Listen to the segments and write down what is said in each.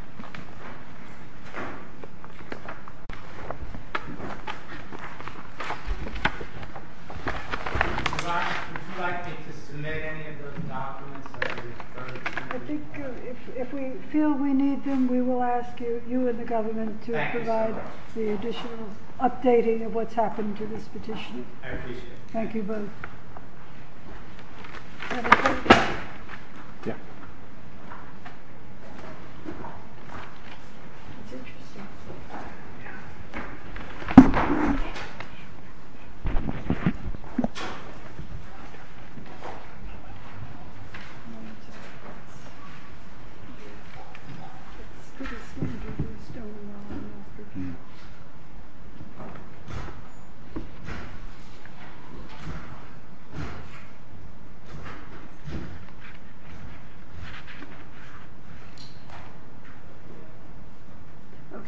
I think if we feel we need them, we will ask you and the government to provide the additional updating of what's happened to this petition. I appreciate it. Thank you both.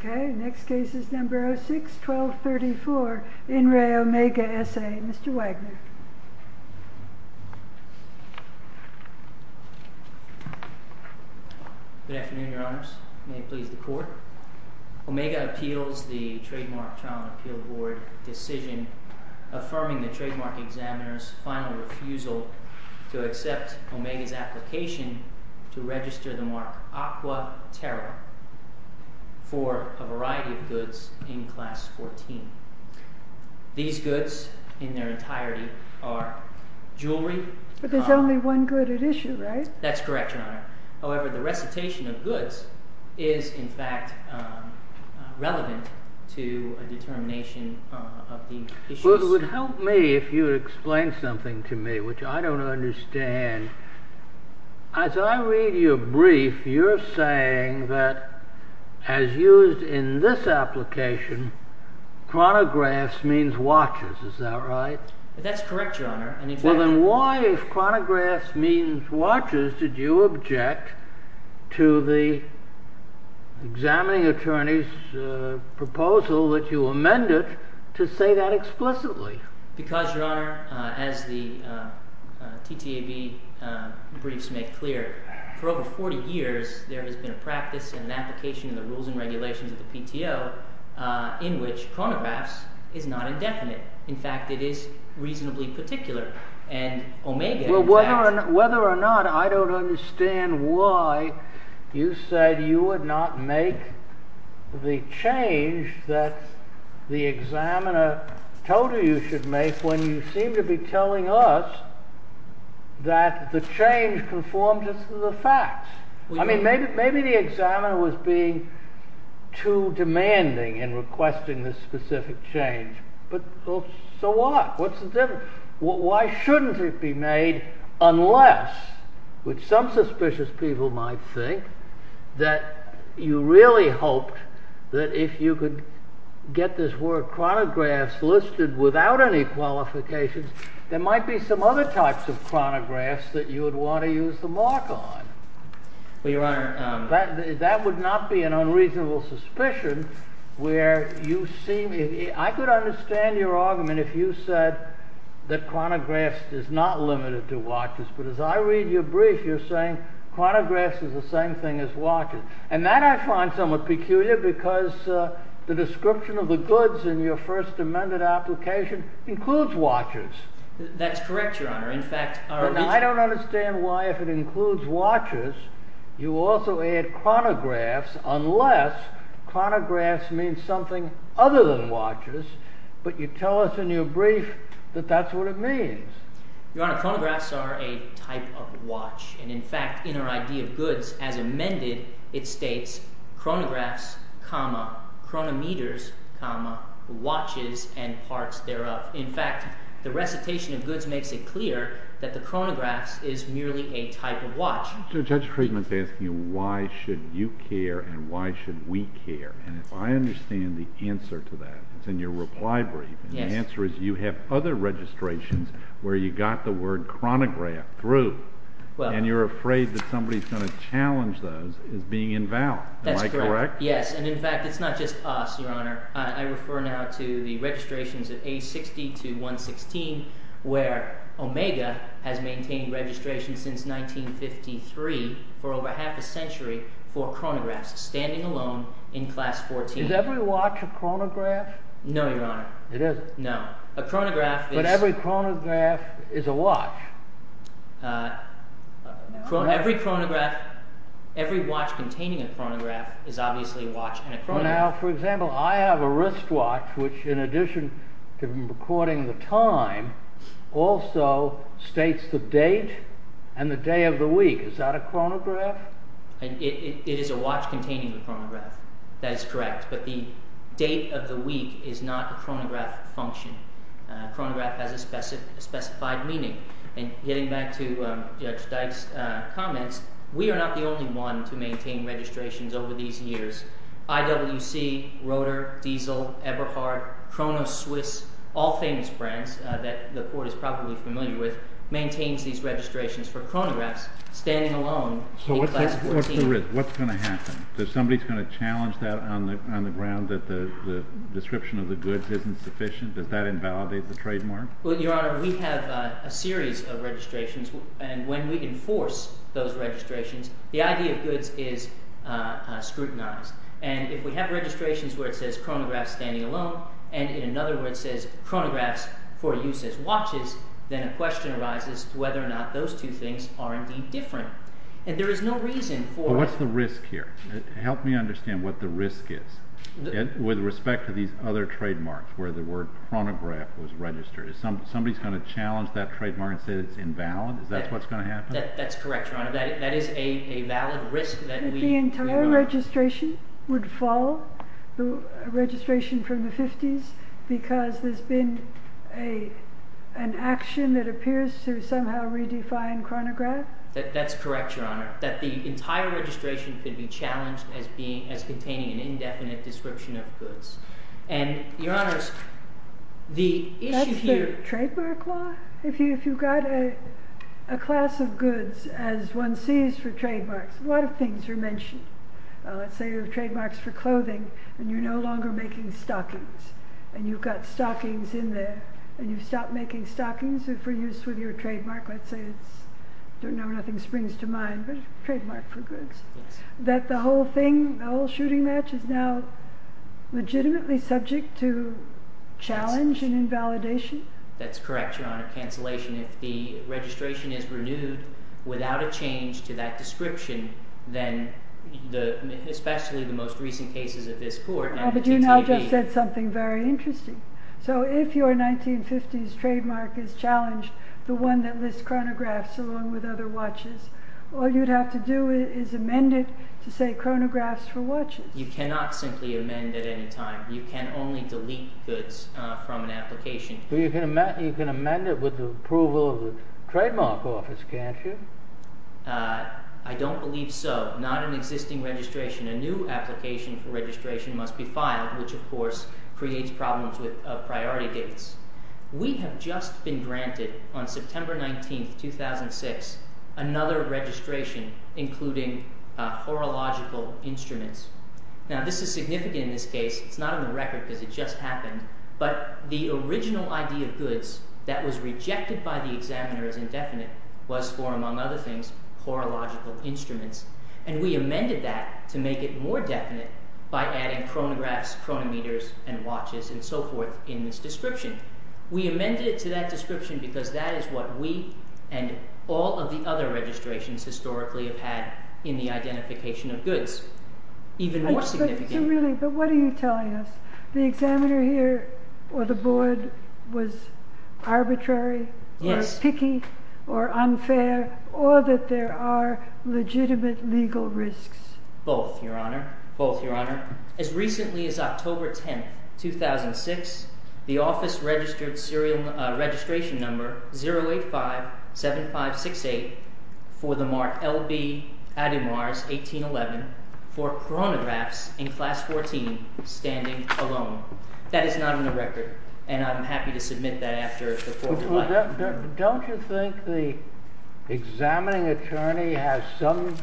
Okay. Next case is number six, 1234 in Re Omega Sa. Mr. Wagner. Good afternoon, your honors. May it please the court. Omega appeals the trademark trial and appeal board decision affirming the trademark examiner's final refusal to accept Omega's application to register the mark Aqua Terra for a variety of goods in class 14. These goods in their entirety are jewelry. But there's only one good at issue, right? That's correct, your honor. However, the recitation of goods is in fact relevant to a determination of the issues. It would help me if you would explain something to me, which I don't understand. As I read your brief, you're saying that as used in this application, chronographs means watches. Is that right? That's correct, your honor. Well, then why, if chronographs means watches, did you object to the examining attorney's proposal that you amended to say that explicitly? Because, your honor, as the TTAB briefs make clear, for over 40 years, there has been a practice and an application in the rules and regulations of the PTO in which chronographs is not indefinite. In fact, it is reasonably particular. And Omega, whether or not, I don't understand why you said you would not make the change that the examiner told you you should make when you seem to be telling us that the change conforms to the facts. I mean, maybe the examiner was being too demanding in requesting this specific change. But so what? What's the difference? Why shouldn't it be made unless, which some suspicious people might think, that you really hoped that if you could get this word chronographs listed without any qualifications, there might be some other types of chronographs that you would want to use the mark on. Well, your honor, that would not be an unreasonable suspicion where you see, I could understand your argument if you said that chronographs is not limited to watches. But as I read your brief, you're saying chronographs is the same thing as watches. And that I find somewhat peculiar because the description of the goods in your first amended application includes watches. That's correct, your honor. But I don't understand why if it includes watches, you also add chronographs unless chronographs means something other than watches. But you tell us in your brief that that's what it means. Your honor, chronographs are a type of watch. And in fact, in our idea of goods as amended, it states chronographs, chronometers, watches and parts thereof. In fact, the recitation of goods makes it clear that the chronographs is merely a type of watch. So Judge Friedman's asking you, why should you care and why should we care? And if I understand the answer to that, it's in your reply brief. And the answer is you have other registrations where you got the word chronograph through and you're afraid that somebody's going to challenge those as being invalid. Am I correct? Yes. And in fact, it's not just us, your honor. I refer now to the registrations of A60 to 116, where Omega has maintained registration since 1953 for over half a century for chronographs standing alone in class 14. Is every watch a chronograph? No, your honor. It isn't. No, a chronograph. But every chronograph is a watch. Every chronograph, every watch containing a chronograph is obviously a watch. Now, for example, I have a wristwatch, which in addition to recording the time also states the date and the day of the week. Is that a chronograph? It is a watch containing a chronograph. That is correct. But the date of the week is not a chronograph function. Chronograph has a specified meaning. And getting back to Judge Dyke's comments, we are not the only one to maintain registrations over these years. IWC, Rotor, Diesel, Eberhardt, Chronos, Swiss, all famous brands that the court is probably familiar with, maintains these registrations for chronographs standing alone in class 14. So what's the risk? What's going to happen? If somebody is going to challenge that on the ground that the description of the goods isn't sufficient, does that invalidate the trademark? Well, your honor, we have a series of registrations. And when we enforce those registrations, the idea of goods is scrutinized. And if we have registrations where it says chronograph standing alone, and in another where it says chronographs for use as watches, then a question arises whether or not those two things are indeed different. And there is no reason for... What's the risk here? Help me understand what the risk is with respect to these other trademarks where the word chronograph was registered. Is somebody going to challenge that trademark and say it's invalid? Is that what's going to happen? That's correct, your honor. That is a valid risk that we... The entire registration would fall, the registration from the 50s, because there's been an action that appears to somehow redefine chronograph? That's correct, your honor, that the entire registration could be challenged as containing an indefinite description of goods. And your honors, the issue here... That's the trademark law. If you've got a class of goods, as one sees for trademarks, a lot of things are mentioned. Let's say your trademarks for clothing and you're no longer making stockings and you've got stockings in there and you've stopped making stockings for use with your trademark. Let's say it's, I don't know, nothing springs to mind, but trademark for goods. That the whole thing, the whole shooting match is now legitimately subject to challenge and invalidation? That's correct, your honor. Cancellation. If the registration is renewed without a change to that description, then the, especially the most recent cases of this court... But you now just said something very interesting. So if your 1950s trademark is challenged, the one that lists chronographs along with other watches, all you'd have to do is amend it to say chronographs for watches. You cannot simply amend at any time. You can only delete goods from an application. But you can amend it with the approval of the trademark office, can't you? I don't believe so. Not an existing registration. A new application for registration must be filed, which, of course, creates problems with priority dates. We have just been granted on September 19th, 2006, another registration, including horological instruments. Now, this is significant in this case. It's not on the record because it just happened. But the original idea of goods that was rejected by the examiner as indefinite was for, among other things, horological instruments. And we amended that to make it more definite by adding chronographs, chronometers, and watches and so forth in this description. We amended it to that description because that is what we and all of the other registrations historically have had in the identification of goods. Even more significant. Really, but what are you telling us? The examiner here or the board was arbitrary, picky or unfair, or that there are legitimate legal risks. Both, your honor. Both, your honor. As recently as October 10th, 2006, the office registered serial registration number 0857568 for the mark L.B. Ademars 1811 for chronographs in class 14 standing alone. That is not on the record. And I'm happy to submit that after. Don't you think the examining attorney has some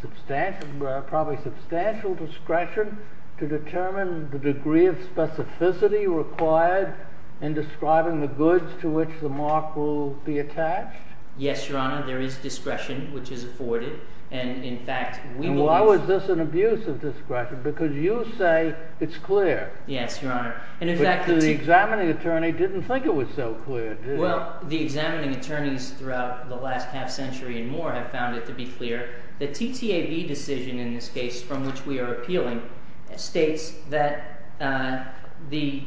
substantial, probably substantial discretion to determine the degree of specificity required in describing the goods to which the mark will be attached? Yes, your honor. There is discretion, which is afforded. And in fact, why was this an abuse of discretion? Because you say it's clear. Yes, your honor. And in fact, the examining attorney didn't think it was so clear. Well, the examining attorneys throughout the last half century and more have found it to be clear that TTAB decision in this case from which we are appealing states that the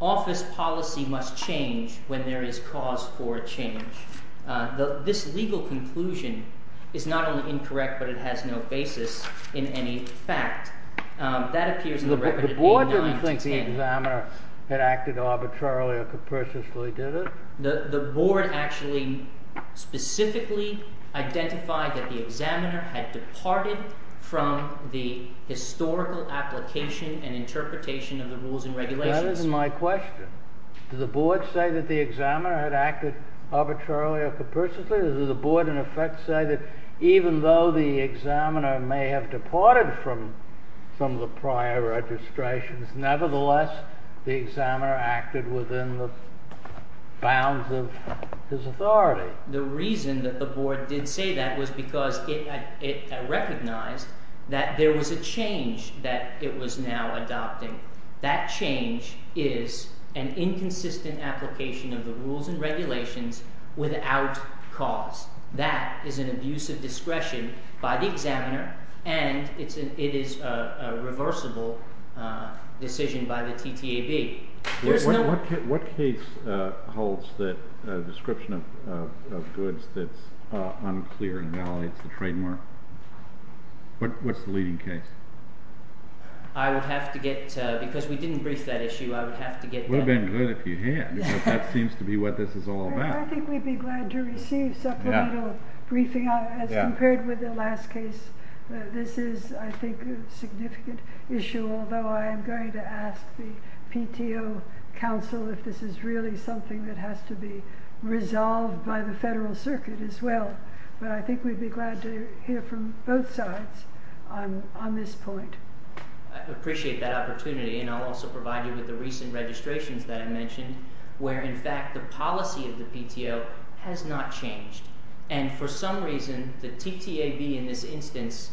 office policy must change when there is cause for change. This legal conclusion is not only incorrect, but it has no basis in any fact that appears in the record. The board didn't think the examiner had acted arbitrarily or capriciously, did it? The board actually specifically identified that the examiner had departed from the historical application and interpretation of the rules and regulations. That is my question. Does the board say that the examiner had acted arbitrarily or capriciously? Does the board in effect say that even though the examiner may have departed from some of the prior registrations, nevertheless, the examiner acted within the bounds of his authority? The reason that the board did say that was because it recognized that there was a change that it was now adopting. That change is an inconsistent application of the rules and regulations without cause. That is an abuse of discretion by the examiner, and it is a reversible decision by the TTAB. What case holds the description of goods that's unclear and invalidates the trademark? What's the leading case? I would have to get, because we didn't brief that issue, I would have to get... It would have been good if you had, because that seems to be what this is all about. I think we'd be glad to receive supplemental briefing as compared with the last case. This is, I think, a significant issue, although I am going to ask the PTO counsel if this is really something that has to be resolved by the Federal Circuit as well. But I think we'd be glad to hear from both sides on this point. I appreciate that opportunity, and I'll also provide you with the recent registrations that I mentioned, where in fact the policy of the PTO has not changed. And for some reason, the TTAB in this instance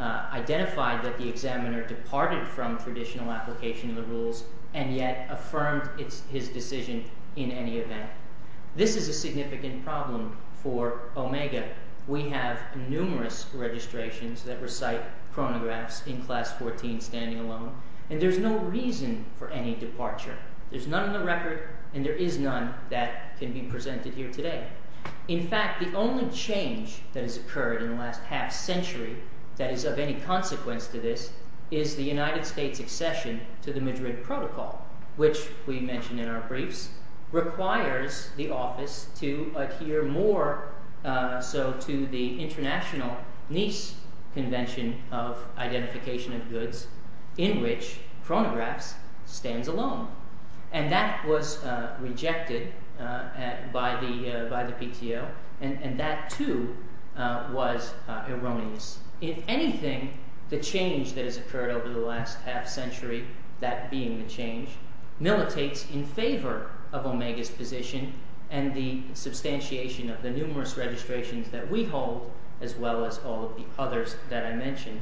identified that the examiner departed from traditional application of the rules and yet affirmed his decision in any event. This is a significant problem for OMEGA. We have numerous registrations that recite chronographs in class 14 standing alone, and there's no reason for any departure. There's none in the record, and there is none that can be presented here today. In fact, the only change that has occurred in the last half century that is of any consequence to this is the United States' accession to the Madrid Protocol, which we mentioned in our briefs, requires the office to adhere more so to the international NIS Convention of Identification of Goods in which chronographs stand alone. And that was rejected by the PTO, and that too was erroneous. In anything, the change that has occurred over the last half century, that being the change, militates in favor of OMEGA's position and the substantiation of the numerous registrations that we hold, as well as all of the others that I mentioned.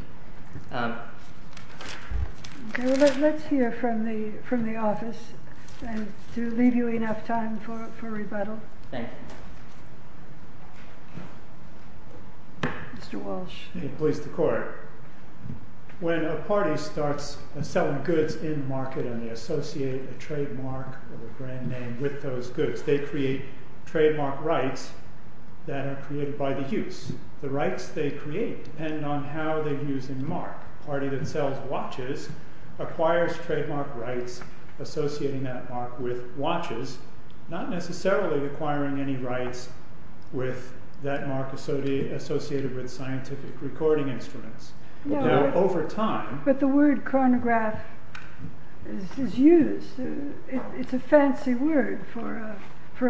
Let's hear from the office, and to leave you enough time for rebuttal. Thank you. Mr. Walsh. Please, the court. When a party starts selling goods in the market and they associate a trademark or a brand name with those goods, they create trademark rights that are created by the use. The rights they create depend on how they use and mark. A trademark party that sells watches acquires trademark rights associating that mark with watches, not necessarily acquiring any rights with that mark associated with scientific recording instruments. Now, over time... But the word chronograph is used. It's a fancy word for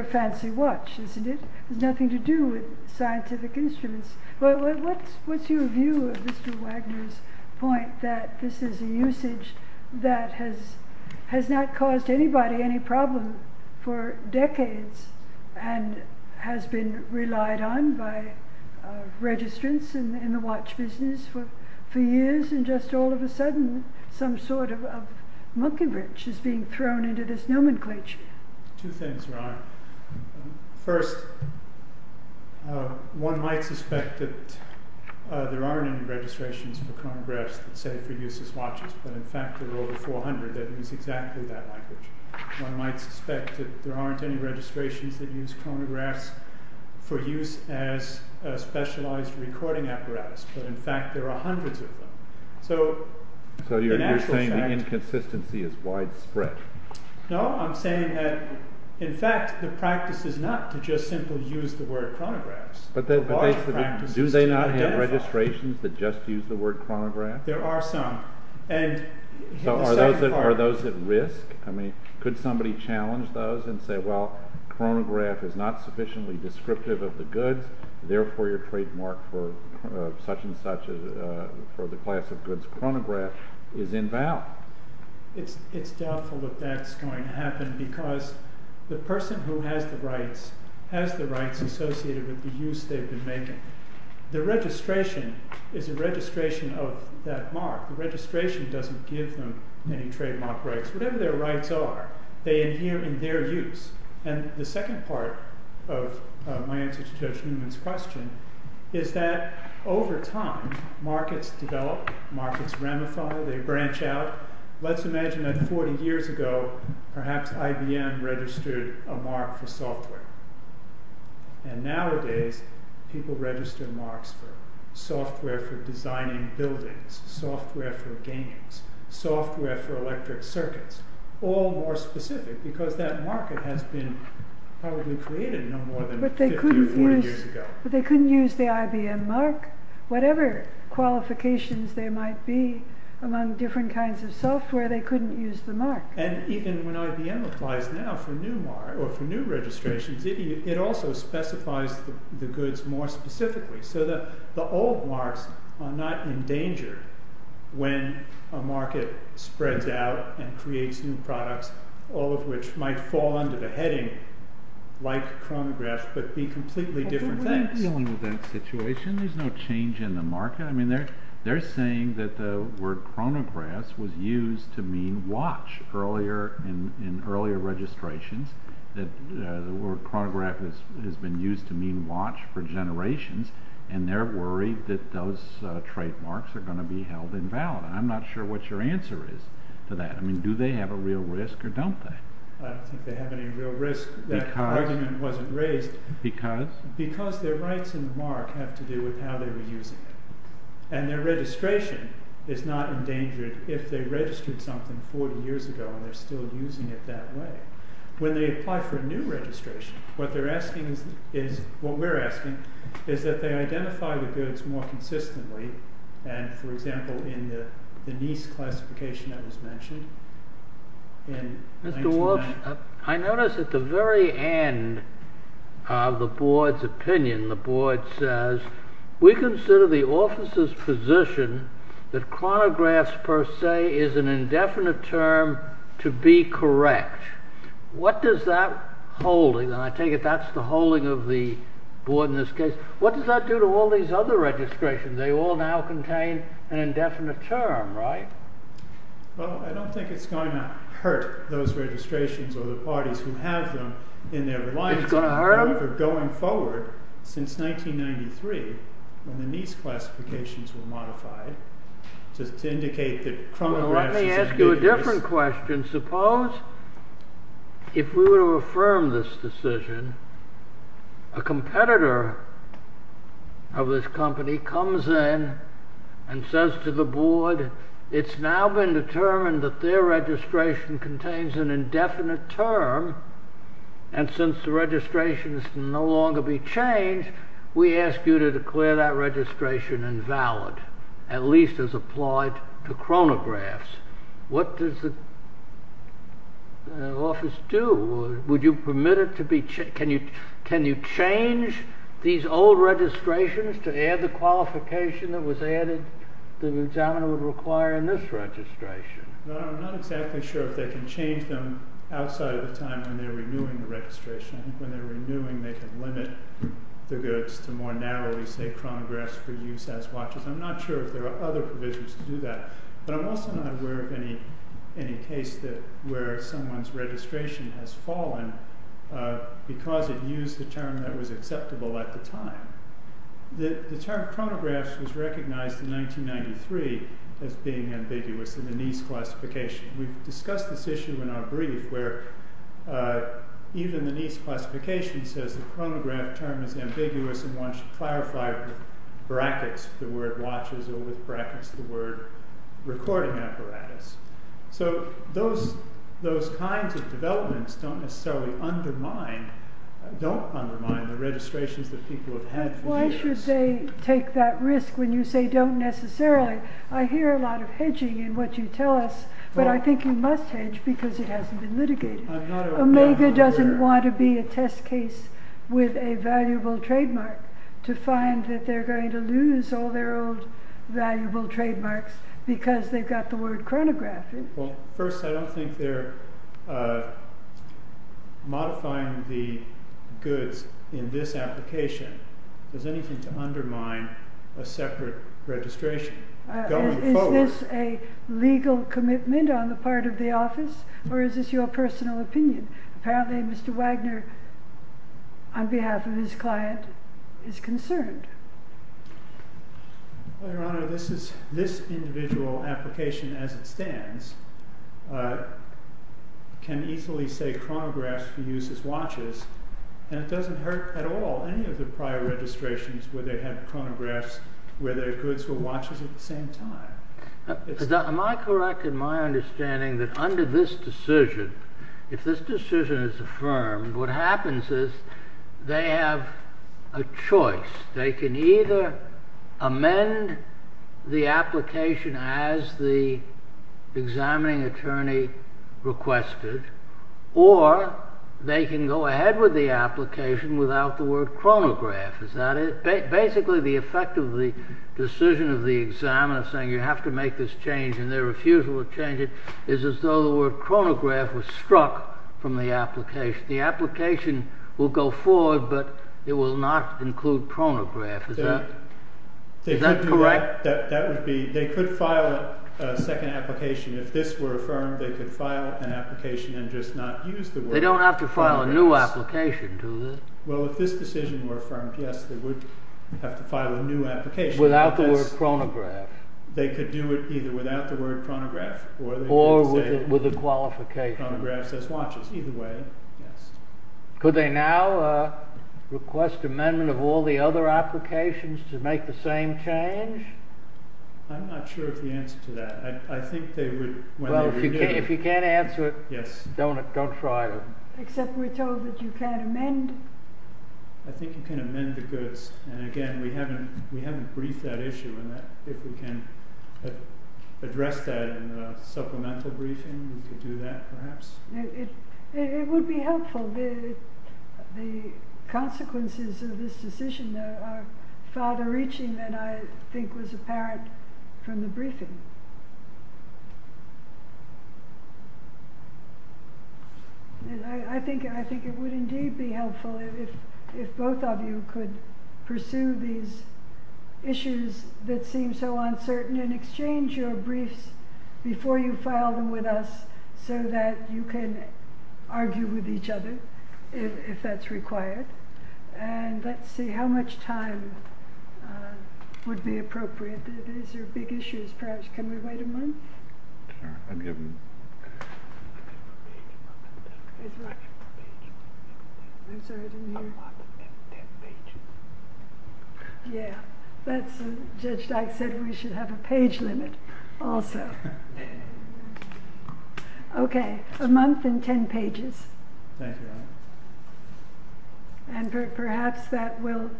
a fancy watch, isn't it? It has nothing to do with scientific instruments. What's your view of Mr. Wagner's point that this is a usage that has not caused anybody any problem for decades and has been relied on by registrants in the watch business for years, and just all of a sudden, some sort of monkey bridge is being thrown into this nomenclature? Two things, Ron. First, one might suspect that there aren't any registrations for chronographs that say for use as watches, but in fact, there are over 400 that use exactly that language. One might suspect that there aren't any registrations that use chronographs for use as a specialized recording apparatus, but in fact, there are hundreds of them. So you're saying the inconsistency is widespread. No, I'm saying that, in fact, the practice is not to just simply use the word chronographs. Do they not have registrations that just use the word chronograph? There are some. So are those at risk? Could somebody challenge those and say, well, chronograph is not sufficiently descriptive of the goods, therefore your trademark for such and such, for the class of goods, chronograph, is invalid. It's doubtful that that's going to happen, because the person who has the rights has the rights associated with the use they've been making. The registration is a registration of that mark. The registration doesn't give them any trademark rights. Whatever their rights are, they adhere in their use. And the second part of my answer to Judge Newman's question is that over time, markets develop, markets ramify, they branch out. Let's imagine that 40 years ago, perhaps IBM registered a mark for software. And nowadays, people register marks for software for designing buildings, software for games, software for electric circuits, all more specific, because that market has been probably created no more than 50 or 40 years ago. But they couldn't use the IBM mark. Whatever qualifications there might be among different kinds of software, they couldn't use the mark. And even when IBM applies now for new registrations, it also specifies the goods more specifically. So the old marks are not in danger when a market spreads out and creates new products, all of which might fall under the heading like chronographs, but be completely different things. Are you dealing with that situation? There's no change in the market. I mean, they're saying that the word chronographs was used to mean watch in earlier registrations, that the word chronograph has been used to mean watch for generations. And they're worried that those trademarks are going to be held invalid. And I'm not sure what your answer is to that. I mean, do they have a real risk or don't they? I don't think they have any real risk. That argument wasn't raised. Because? Because their rights in the mark have to do with how they were using it. And their registration is not endangered if they registered something 40 years ago and they're still using it that way. When they apply for a new registration, what we're asking is that they identify the goods more consistently. And, for example, in the NIS classification that was mentioned in 1990. I notice at the very end of the board's opinion, the board says, we consider the officer's position that chronographs per se is an indefinite term to be correct. What does that hold? And I take it that's the holding of the board in this case. What does that do to all these other registrations? They all now contain an indefinite term, right? Well, I don't think it's going to hurt those registrations or the parties who have them in their lives. It's going to hurt them? Going forward, since 1993, when the NIS classifications were modified, to indicate that chronographs is an indefinite term. Let me ask you a different question. Suppose if we were to affirm this decision, a competitor of this company comes in and says to the board, it's now been determined that their registration contains an indefinite term, and since the registration can no longer be changed, we ask you to declare that registration invalid, at least as applied to chronographs. What does the office do? Would you permit it to be changed? Can you change these old registrations to add the qualification that was added that an examiner would require in this registration? I'm not exactly sure if they can change them outside of the time when they're renewing the registration. I think when they're renewing, they can limit the goods to more narrowly, say, chronographs for use as watches. I'm not sure if there are other provisions to do that. But I'm also not aware of any case where someone's registration has fallen because it used a term that was acceptable at the time. The term chronographs was recognized in 1993 as being ambiguous in the NIS classification. We've discussed this issue in our brief, where even the NIS classification says the chronograph term is ambiguous and one should clarify with brackets the word watches or with brackets the word recording apparatus. So those kinds of developments don't necessarily undermine the registrations that people have had for years. Why should they take that risk when you say don't necessarily? I hear a lot of hedging in what you tell us, but I think you must hedge because it hasn't been litigated. Omega doesn't want to be a test case with a valuable trademark to find that they're going to lose all their old valuable trademarks because they've got the word chronograph. Well, first, I don't think they're modifying the goods in this application. There's anything to undermine a separate registration. Is this a legal commitment on the part of the office or is this your personal opinion? Apparently, Mr. Wagner, on behalf of his client, is concerned. Your Honor, this individual application as it stands can easily say chronographs for use as watches. And it doesn't hurt at all any of the prior registrations where they had chronographs where their goods were watches at the same time. Am I correct in my understanding that under this decision, if this decision is affirmed, what happens is they have a choice. They can either amend the application as the examining attorney requested or they can go ahead with the application without the word chronograph. Is that it? Basically, the effect of the decision of the examiner saying you have to make this change and their refusal to change it is as though the word chronograph was struck from the application. The application will go forward, but it will not include chronograph. Is that correct? They could file a second application. If this were affirmed, they could file an application and just not use the word chronographs. They don't have to file a new application to this. Well, if this decision were affirmed, yes, they would have to file a new application. Without the word chronograph. They could do it either without the word chronograph or they could say chronographs as watches. Could they now request amendment of all the other applications to make the same change? I'm not sure of the answer to that. If you can't answer it, don't try to. Except we're told that you can't amend. I think you can amend the goods. And again, we haven't briefed that issue. If we can address that in a supplemental briefing, we could do that perhaps. It would be helpful. The consequences of this decision are farther reaching than I think was apparent from the briefing. I think it would indeed be helpful if both of you could pursue these issues that seem so uncertain and exchange your briefs before you file them with us so that you can argue with each other if that's required. And let's see how much time would be appropriate. These are big issues perhaps. Can we wait a month? I'd give them a month and ten pages. Yeah. Judge Dyke said we should have a page limit also. Okay. A month and ten pages. Thank you. And perhaps that will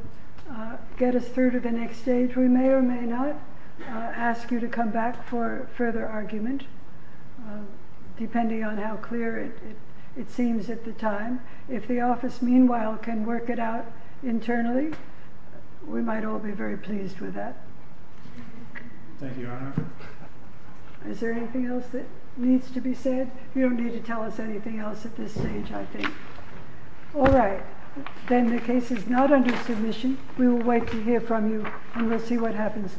get us through to the next stage. If we may or may not ask you to come back for further argument, depending on how clear it seems at the time, if the office meanwhile can work it out internally, we might all be very pleased with that. Thank you, Your Honor. Is there anything else that needs to be said? You don't need to tell us anything else at this stage, I think. All right. Then the case is not under submission. We will wait to hear from you, and we'll see what happens next.